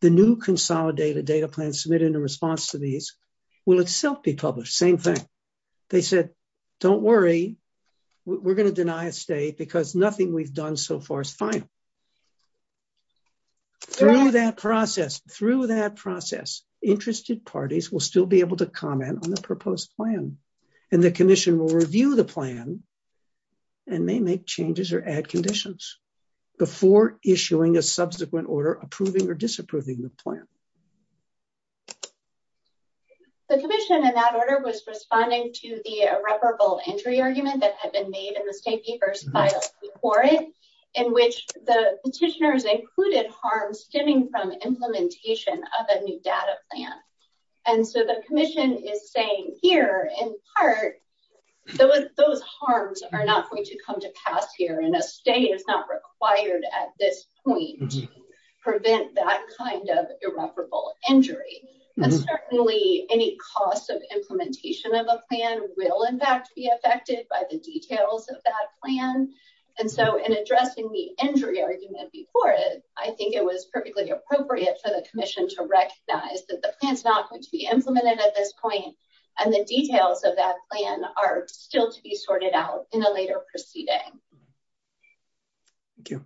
The new consolidated data plan submitted in response to these will itself be published. Same thing. They said, don't worry. We're going to deny a stay because nothing we've done so far is final. Through that process, interested parties will still be able to comment on the proposed plan. And the commission will review the plan and may make changes or add conditions before issuing a subsequent order approving or disapproving the plan. The commission in that order was responding to the irreparable entry argument that had been made in the state papers filed before it, in which the petitioners included harm stemming from implementation of a new data plan. And so the commission is saying here, in part, those harms are not going to come to pass here. And a stay is not required at this point to prevent that kind of irreparable entry. And certainly, any cost of implementation of a plan will, in fact, be affected by the details of that plan. And so in addressing the entry argument before it, I think it was perfectly appropriate for the commission to recognize that the plan is not going to be implemented at this point. And the details of that plan are still to be sorted out in a later proceeding. Thank you.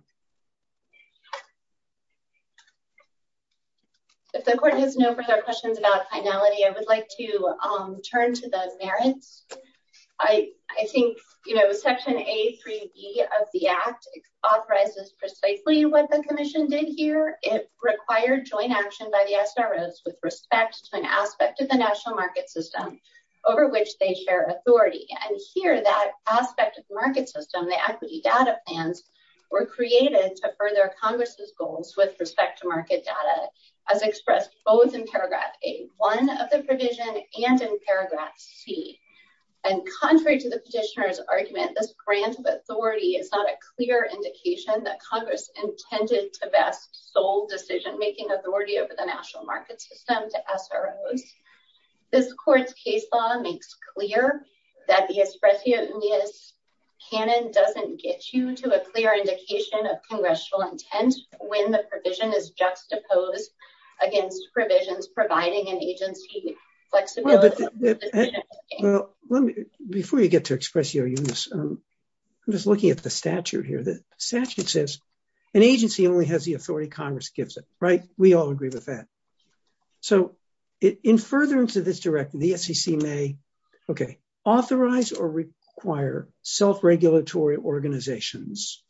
If the court has no further questions about finality, I would like to turn to the merits. I think, you know, Section A3B of the Act authorizes precisely what the commission did here. It required joint action by the SROs with respect to an aspect of the national market system over which they share authority. And here, that aspect of the market system, the equity data plans, were created to further Congress's goals with respect to market data, as expressed both in paragraph A1 of the provision and in paragraph C. And contrary to the petitioner's argument, this grant of authority is not a clear indication that Congress intended to best sole decision-making authority over the national market system to SROs. This court's case law makes clear that the expression canon doesn't get you to a clear indication of congressional intent when the provision is juxtaposed against provisions providing an agency flexibility. Well, before you get to express your use, I'm just looking at the statute here. The statute says an agency only has the authority Congress gives it, right? We all agree with that. So in furtherance of this directive, the SEC may, OK, authorize or require self-regulatory organizations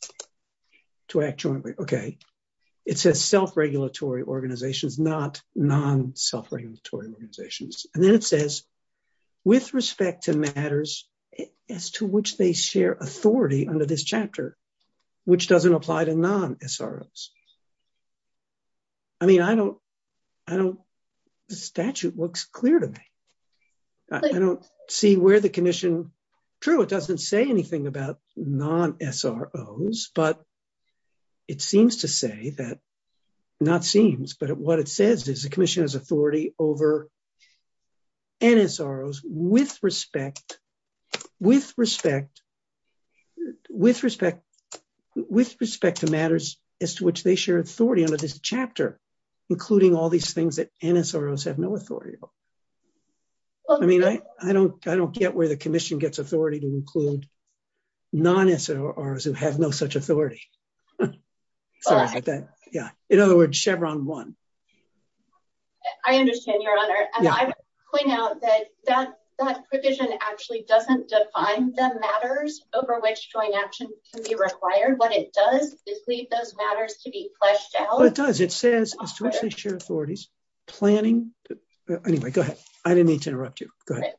to act jointly. OK. It says self-regulatory organizations, not non-self-regulatory organizations. And then it says, with respect to matters as to which they share authority under this chapter, which doesn't apply to non-SROs. I mean, I don't, I don't, the statute looks clear to me. I don't see where the commission, true, it doesn't say anything about non-SROs, but it seems to say that, not seems, but what it says is the commission has authority over NSROs with respect, with respect, with respect, with respect to matters as to which they share authority under this chapter, including all these things that NSROs have no authority over. I mean, I don't, I don't get where the commission gets authority to include non-SROs who have no such authority. Sorry about that. Yeah. In other words, Chevron won. I understand, Your Honor. And I would point out that that provision actually doesn't define the matters over which joint action can be required. What it does is leave those matters to be fleshed out. Well, it does. It says as to which they share authorities, planning. Anyway, go ahead. I didn't mean to interrupt you. Go ahead.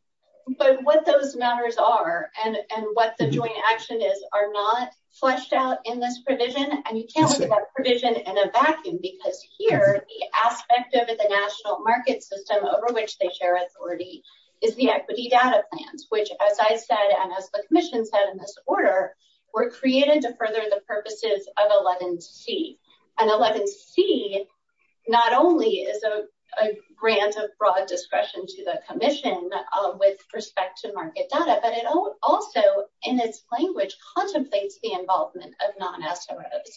But what those matters are and what the joint action is, are not fleshed out in this provision. And you can't look at that provision in a vacuum because here, the aspect of the national market system over which they share authority is the equity data plans, which, as I said, and as the commission said in this order, were created to further the purposes of 11C. And 11C not only is a grant of broad discretion to the commission with respect to market data, but it also, in its language, contemplates the involvement of non-SROs.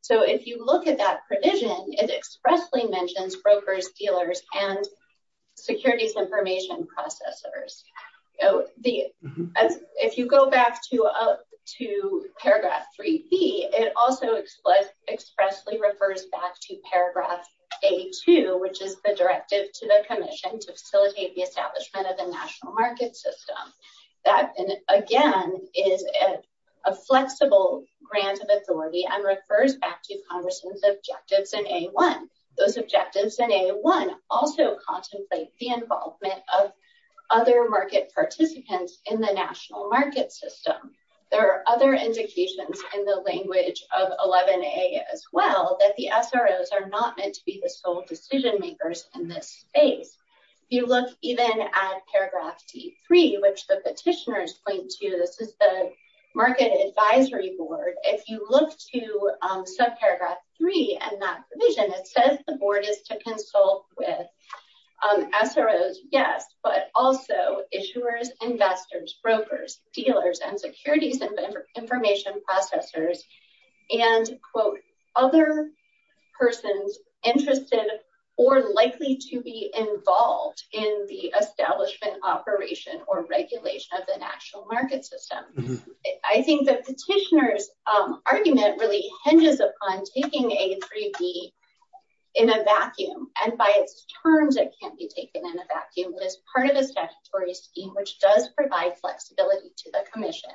So if you look at that provision, it expressly mentions brokers, dealers, and securities information processors. So if you go back to Paragraph 3B, it also expressly refers back to Paragraph A2, which is the directive to the commission to facilitate the establishment of the national market system. That, again, is a flexible grant of authority and refers back to Congress's objectives in A1. Those objectives in A1 also contemplate the involvement of other market participants in the national market system. There are other indications in the language of 11A as well that the SROs are not meant to be the sole decision makers in this space. You look even at Paragraph D3, which the petitioners point to. This is the market advisory board. If you look to subparagraph 3 in that provision, it says the board is to consult with SROs, yes, but also issuers, investors, brokers, dealers, and securities information processors, and, quote, other persons interested or likely to be involved in the establishment operation or regulation of the national market system. I think the petitioner's argument really hinges upon taking A3B in a vacuum, and by its terms, it can't be taken in a vacuum. It is part of a statutory scheme, which does provide flexibility to the commission,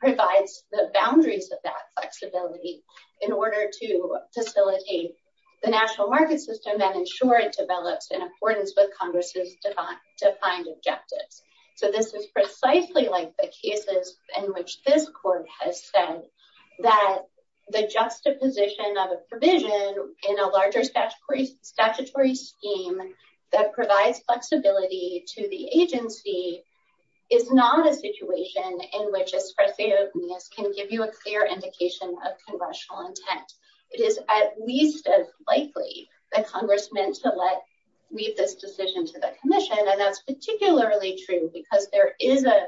provides the boundaries of that flexibility in order to facilitate the national market system and ensure it develops in accordance with Congress's defined objectives. This is precisely like the cases in which this court has said that the juxtaposition of a provision in a larger statutory scheme that provides flexibility to the agency is not a situation in which a sparse openness can give you a clear indication of congressional intent. It is at least as likely that Congress meant to leave this decision to the commission, and that's particularly true because there is an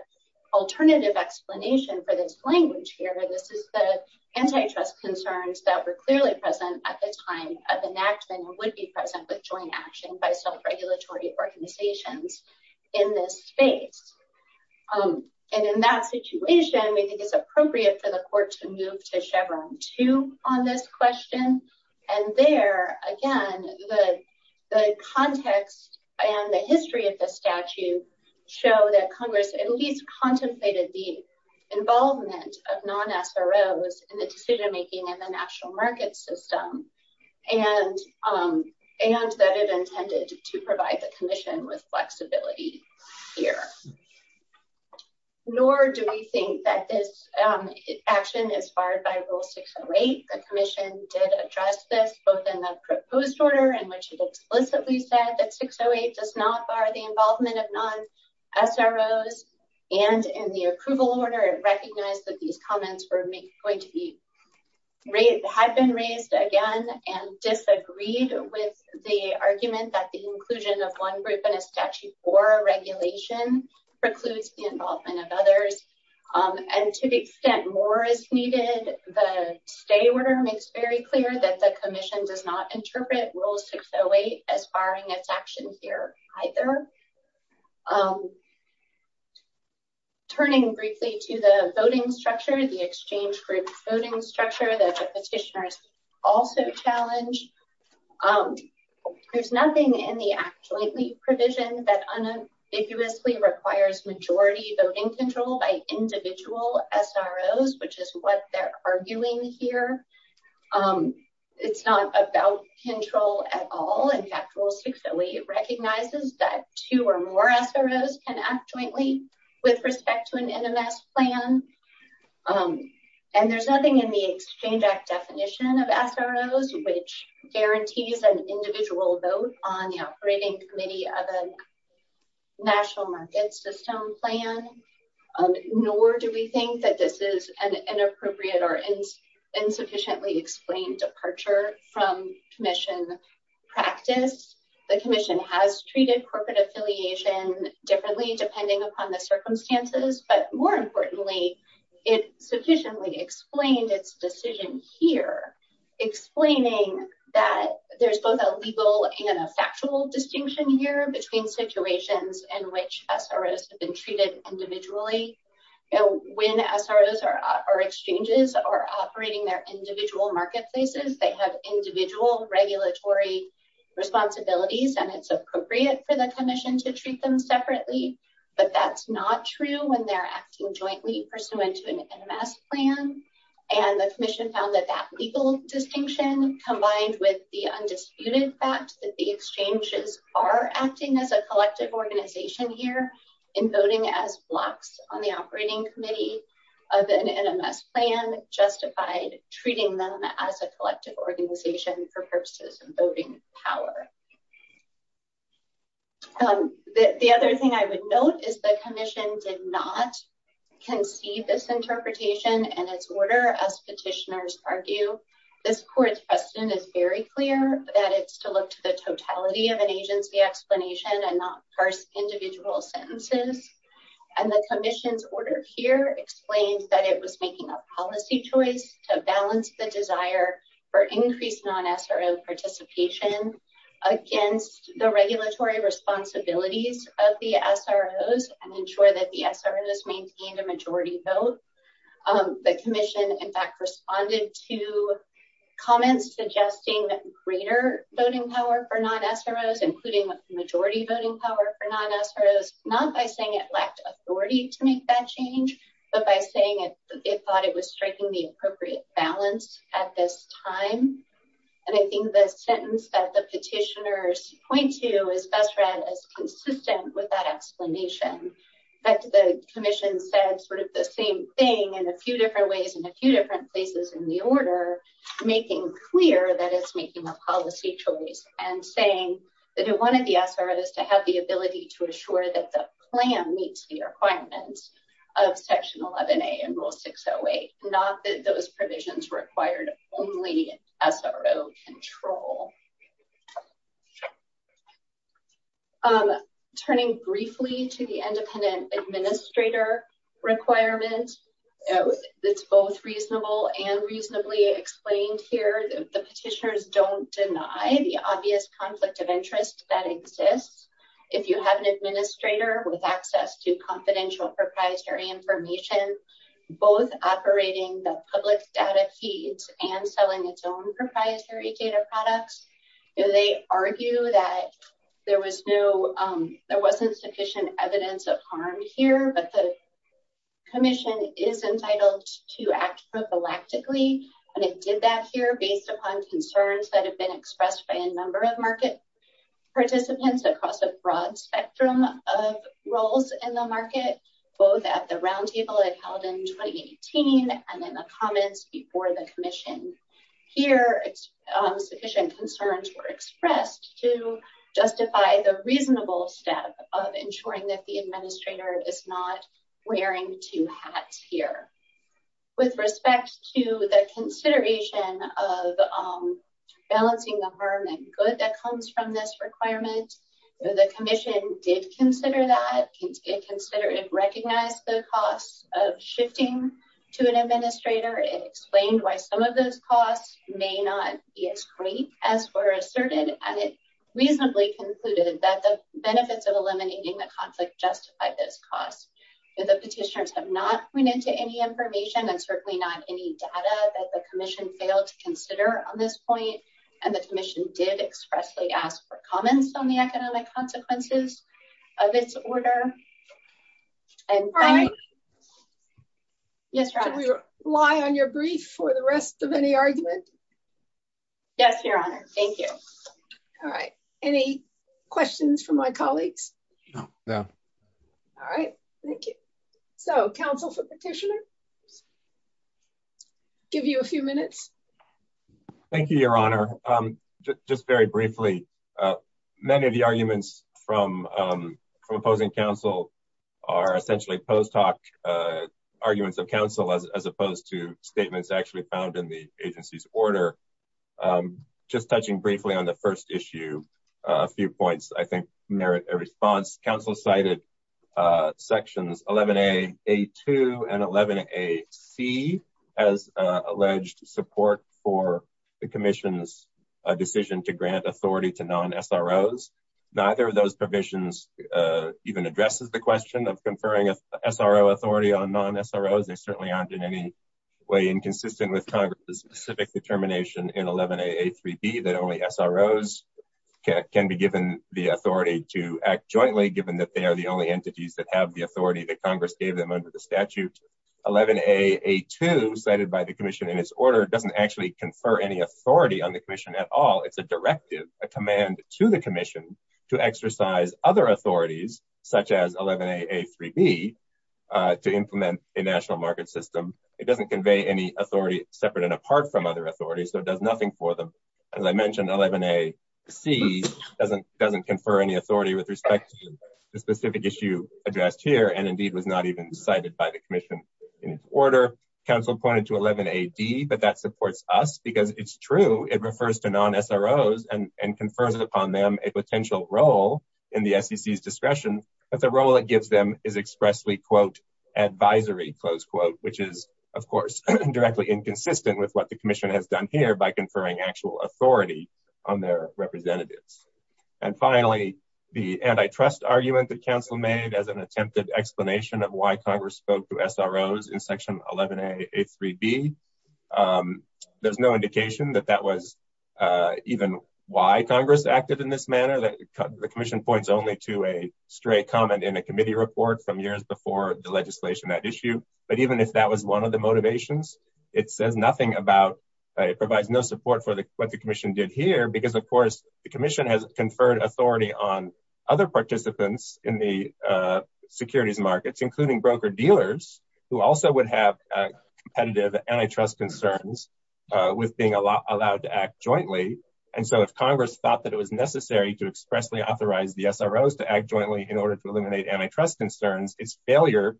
alternative explanation for this language here. This is the antitrust concerns that were clearly present at the time of enactment and would be present with joint action by self-regulatory organizations in this space. And in that situation, we think it's appropriate for the court to move to Chevron 2 on this question. And there, again, the context and the history of the statute show that Congress at least contemplated the involvement of non-SROs in the decision-making in the national market system, and that it intended to provide the commission with flexibility here. Nor do we think that this action is barred by Rule 608. The commission did address this both in the proposed order in which it explicitly said that 608 does not bar the involvement of non-SROs, and in the approval order, it recognized that these comments were going to be raised, had been raised again, and disagreed with the argument that the inclusion of one group in a Statute 4 regulation precludes the involvement of others. And to the extent more is needed, the stay order makes very clear that the commission does not interpret Rule 608 as barring its action here either. Turning briefly to the voting structure, the exchange group voting structure that the petitioners also challenge, there's nothing in the Act Jointly provision that unambiguously requires majority voting control by individual SROs, which is what they're arguing here. It's not about control at all. In fact, Rule 608 recognizes that two or more SROs can act jointly with respect to an NMS plan, and there's nothing in the Exchange Act definition of SROs which guarantees an NMS plan, nor do we think that this is an inappropriate or insufficiently explained departure from commission practice. The commission has treated corporate affiliation differently depending upon the circumstances, but more importantly, it sufficiently explained its decision here, explaining that there's both a legal and a factual distinction here between situations in which SROs have been treated individually. When SROs or exchanges are operating their individual marketplaces, they have individual regulatory responsibilities, and it's appropriate for the commission to treat them separately, but that's not true when they're acting jointly pursuant to an NMS plan. The commission found that that legal distinction, combined with the undisputed fact that the exchanges are acting as a collective organization here in voting as blocks on the operating committee of an NMS plan, justified treating them as a collective organization for purposes of voting power. The other thing I would note is the commission did not conceive this interpretation, and as petitioners argue, this court's precedent is very clear that it's to look to the totality of an agency explanation and not parse individual sentences, and the commission's order here explains that it was making a policy choice to balance the desire for increased non-SRO participation against the regulatory responsibilities of the SROs and ensure that the SROs maintained a majority vote. The commission, in fact, responded to comments suggesting that greater voting power for non-SROs, including majority voting power for non-SROs, not by saying it lacked authority to make that change, but by saying it thought it was striking the appropriate balance at this time, and I think the sentence that the petitioners point to is best read as consistent with that in a few different ways in a few different places in the order, making clear that it's making a policy choice and saying that it wanted the SROs to have the ability to assure that the plan meets the requirements of Section 11A and Rule 608, not that those provisions required only SRO control. Turning briefly to the independent administrator requirement, it's both reasonable and reasonably explained here. The petitioners don't deny the obvious conflict of interest that exists if you have an administrator with access to confidential proprietary information, both operating the public data feeds and selling its own proprietary data products. They argue that there wasn't sufficient evidence of harm here, but the commission is entitled to act prophylactically, and it did that here based upon concerns that have been expressed by a number of market participants across a broad spectrum of roles in the market, both at the roundtable it held in 2018 and in the comments before the commission. Here, sufficient concerns were expressed to justify the reasonable step of ensuring that the administrator is not wearing two hats here. With respect to the consideration of balancing the harm and good that comes from this requirement, the commission did consider that, it considered and recognized the costs of shifting to an may not be as great as were asserted, and it reasonably concluded that the benefits of eliminating the conflict justified those costs. But the petitioners have not pointed to any information and certainly not any data that the commission failed to consider on this point, and the commission did expressly ask for comments on the economic consequences of its order. All right, can we rely on your brief for the rest of any argument? Yes, Your Honor, thank you. All right, any questions from my colleagues? No, no. All right, thank you. So, counsel for petitioner, give you a few minutes. Thank you, Your Honor. Just very briefly. Many of the arguments from opposing counsel are essentially post hoc arguments of counsel as opposed to statements actually found in the agency's order. Just touching briefly on the first issue, a few points I think merit a response. Counsel cited sections 11A, A2, and 11AC as alleged support for the commission's decision to grant authority to non-SROs. Neither of those provisions even addresses the question of conferring SRO authority on non-SROs. They certainly aren't in any way inconsistent with Congress's specific determination in that they are the only entities that have the authority that Congress gave them under the statute. 11A, A2 cited by the commission in its order doesn't actually confer any authority on the commission at all. It's a directive, a command to the commission to exercise other authorities such as 11A, A3B to implement a national market system. It doesn't convey any authority separate and apart from other authorities, so it does nothing for them. As I mentioned, 11AC doesn't confer any authority with respect to the specific issue addressed here and indeed was not even cited by the commission in its order. Counsel pointed to 11AD, but that supports us because it's true. It refers to non-SROs and confers upon them a potential role in the SEC's discretion, but the role it gives them is expressly, quote, advisory, close quote, which is, of course, directly inconsistent with what the commission has done here by conferring actual authority on their representatives. Finally, the antitrust argument that counsel made as an attempted explanation of why Congress spoke to SROs in section 11A, A3B, there's no indication that that was even why Congress acted in this manner. The commission points only to a stray comment in a committee report from years before the legislation that issue. But even if that was one of the motivations, it provides no support for what the commission did here because, of course, the commission has conferred authority on other participants in the securities markets, including broker dealers, who also would have competitive antitrust concerns with being allowed to act jointly. And so if Congress thought that it was necessary to expressly authorize the SROs to act jointly in order to eliminate antitrust concerns, its failure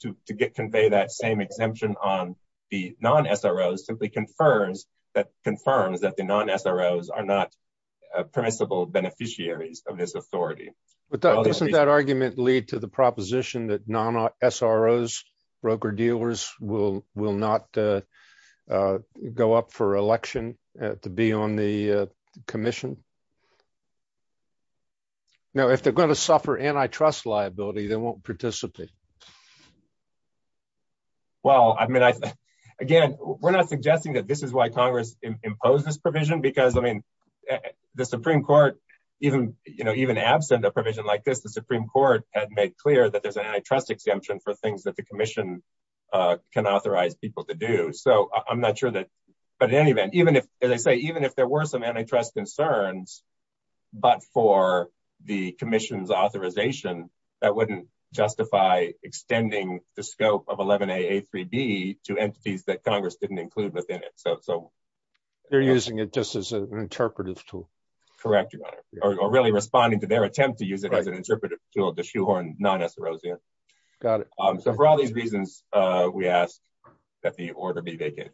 to convey that same exemption on the non-SROs simply confirms that the non-SROs are not permissible beneficiaries of this authority. But doesn't that argument lead to the proposition that non-SROs, broker dealers, will not go up for election to be on the commission? Now, if they're going to suffer antitrust liability, they won't participate. Well, I mean, again, we're not suggesting that this is why Congress imposed this provision because, I mean, the Supreme Court, even absent a provision like this, the Supreme Court had made clear that there's an antitrust exemption for things that the commission can authorize people to do. So I'm not sure that. But in any event, even if, as I say, even if there were some antitrust concerns, but for the commission's authorization, that wouldn't justify extending the scope of 11AA3B to entities that Congress didn't include within it. So they're using it just as an interpretive tool. Correct, Your Honor, or really responding to their attempt to use it as an interpretive tool, the shoehorn non-SROs. Got it. So for all these reasons, we ask that the order be vacated.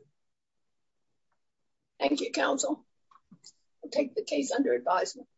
Thank you, counsel. Take the case under advisement.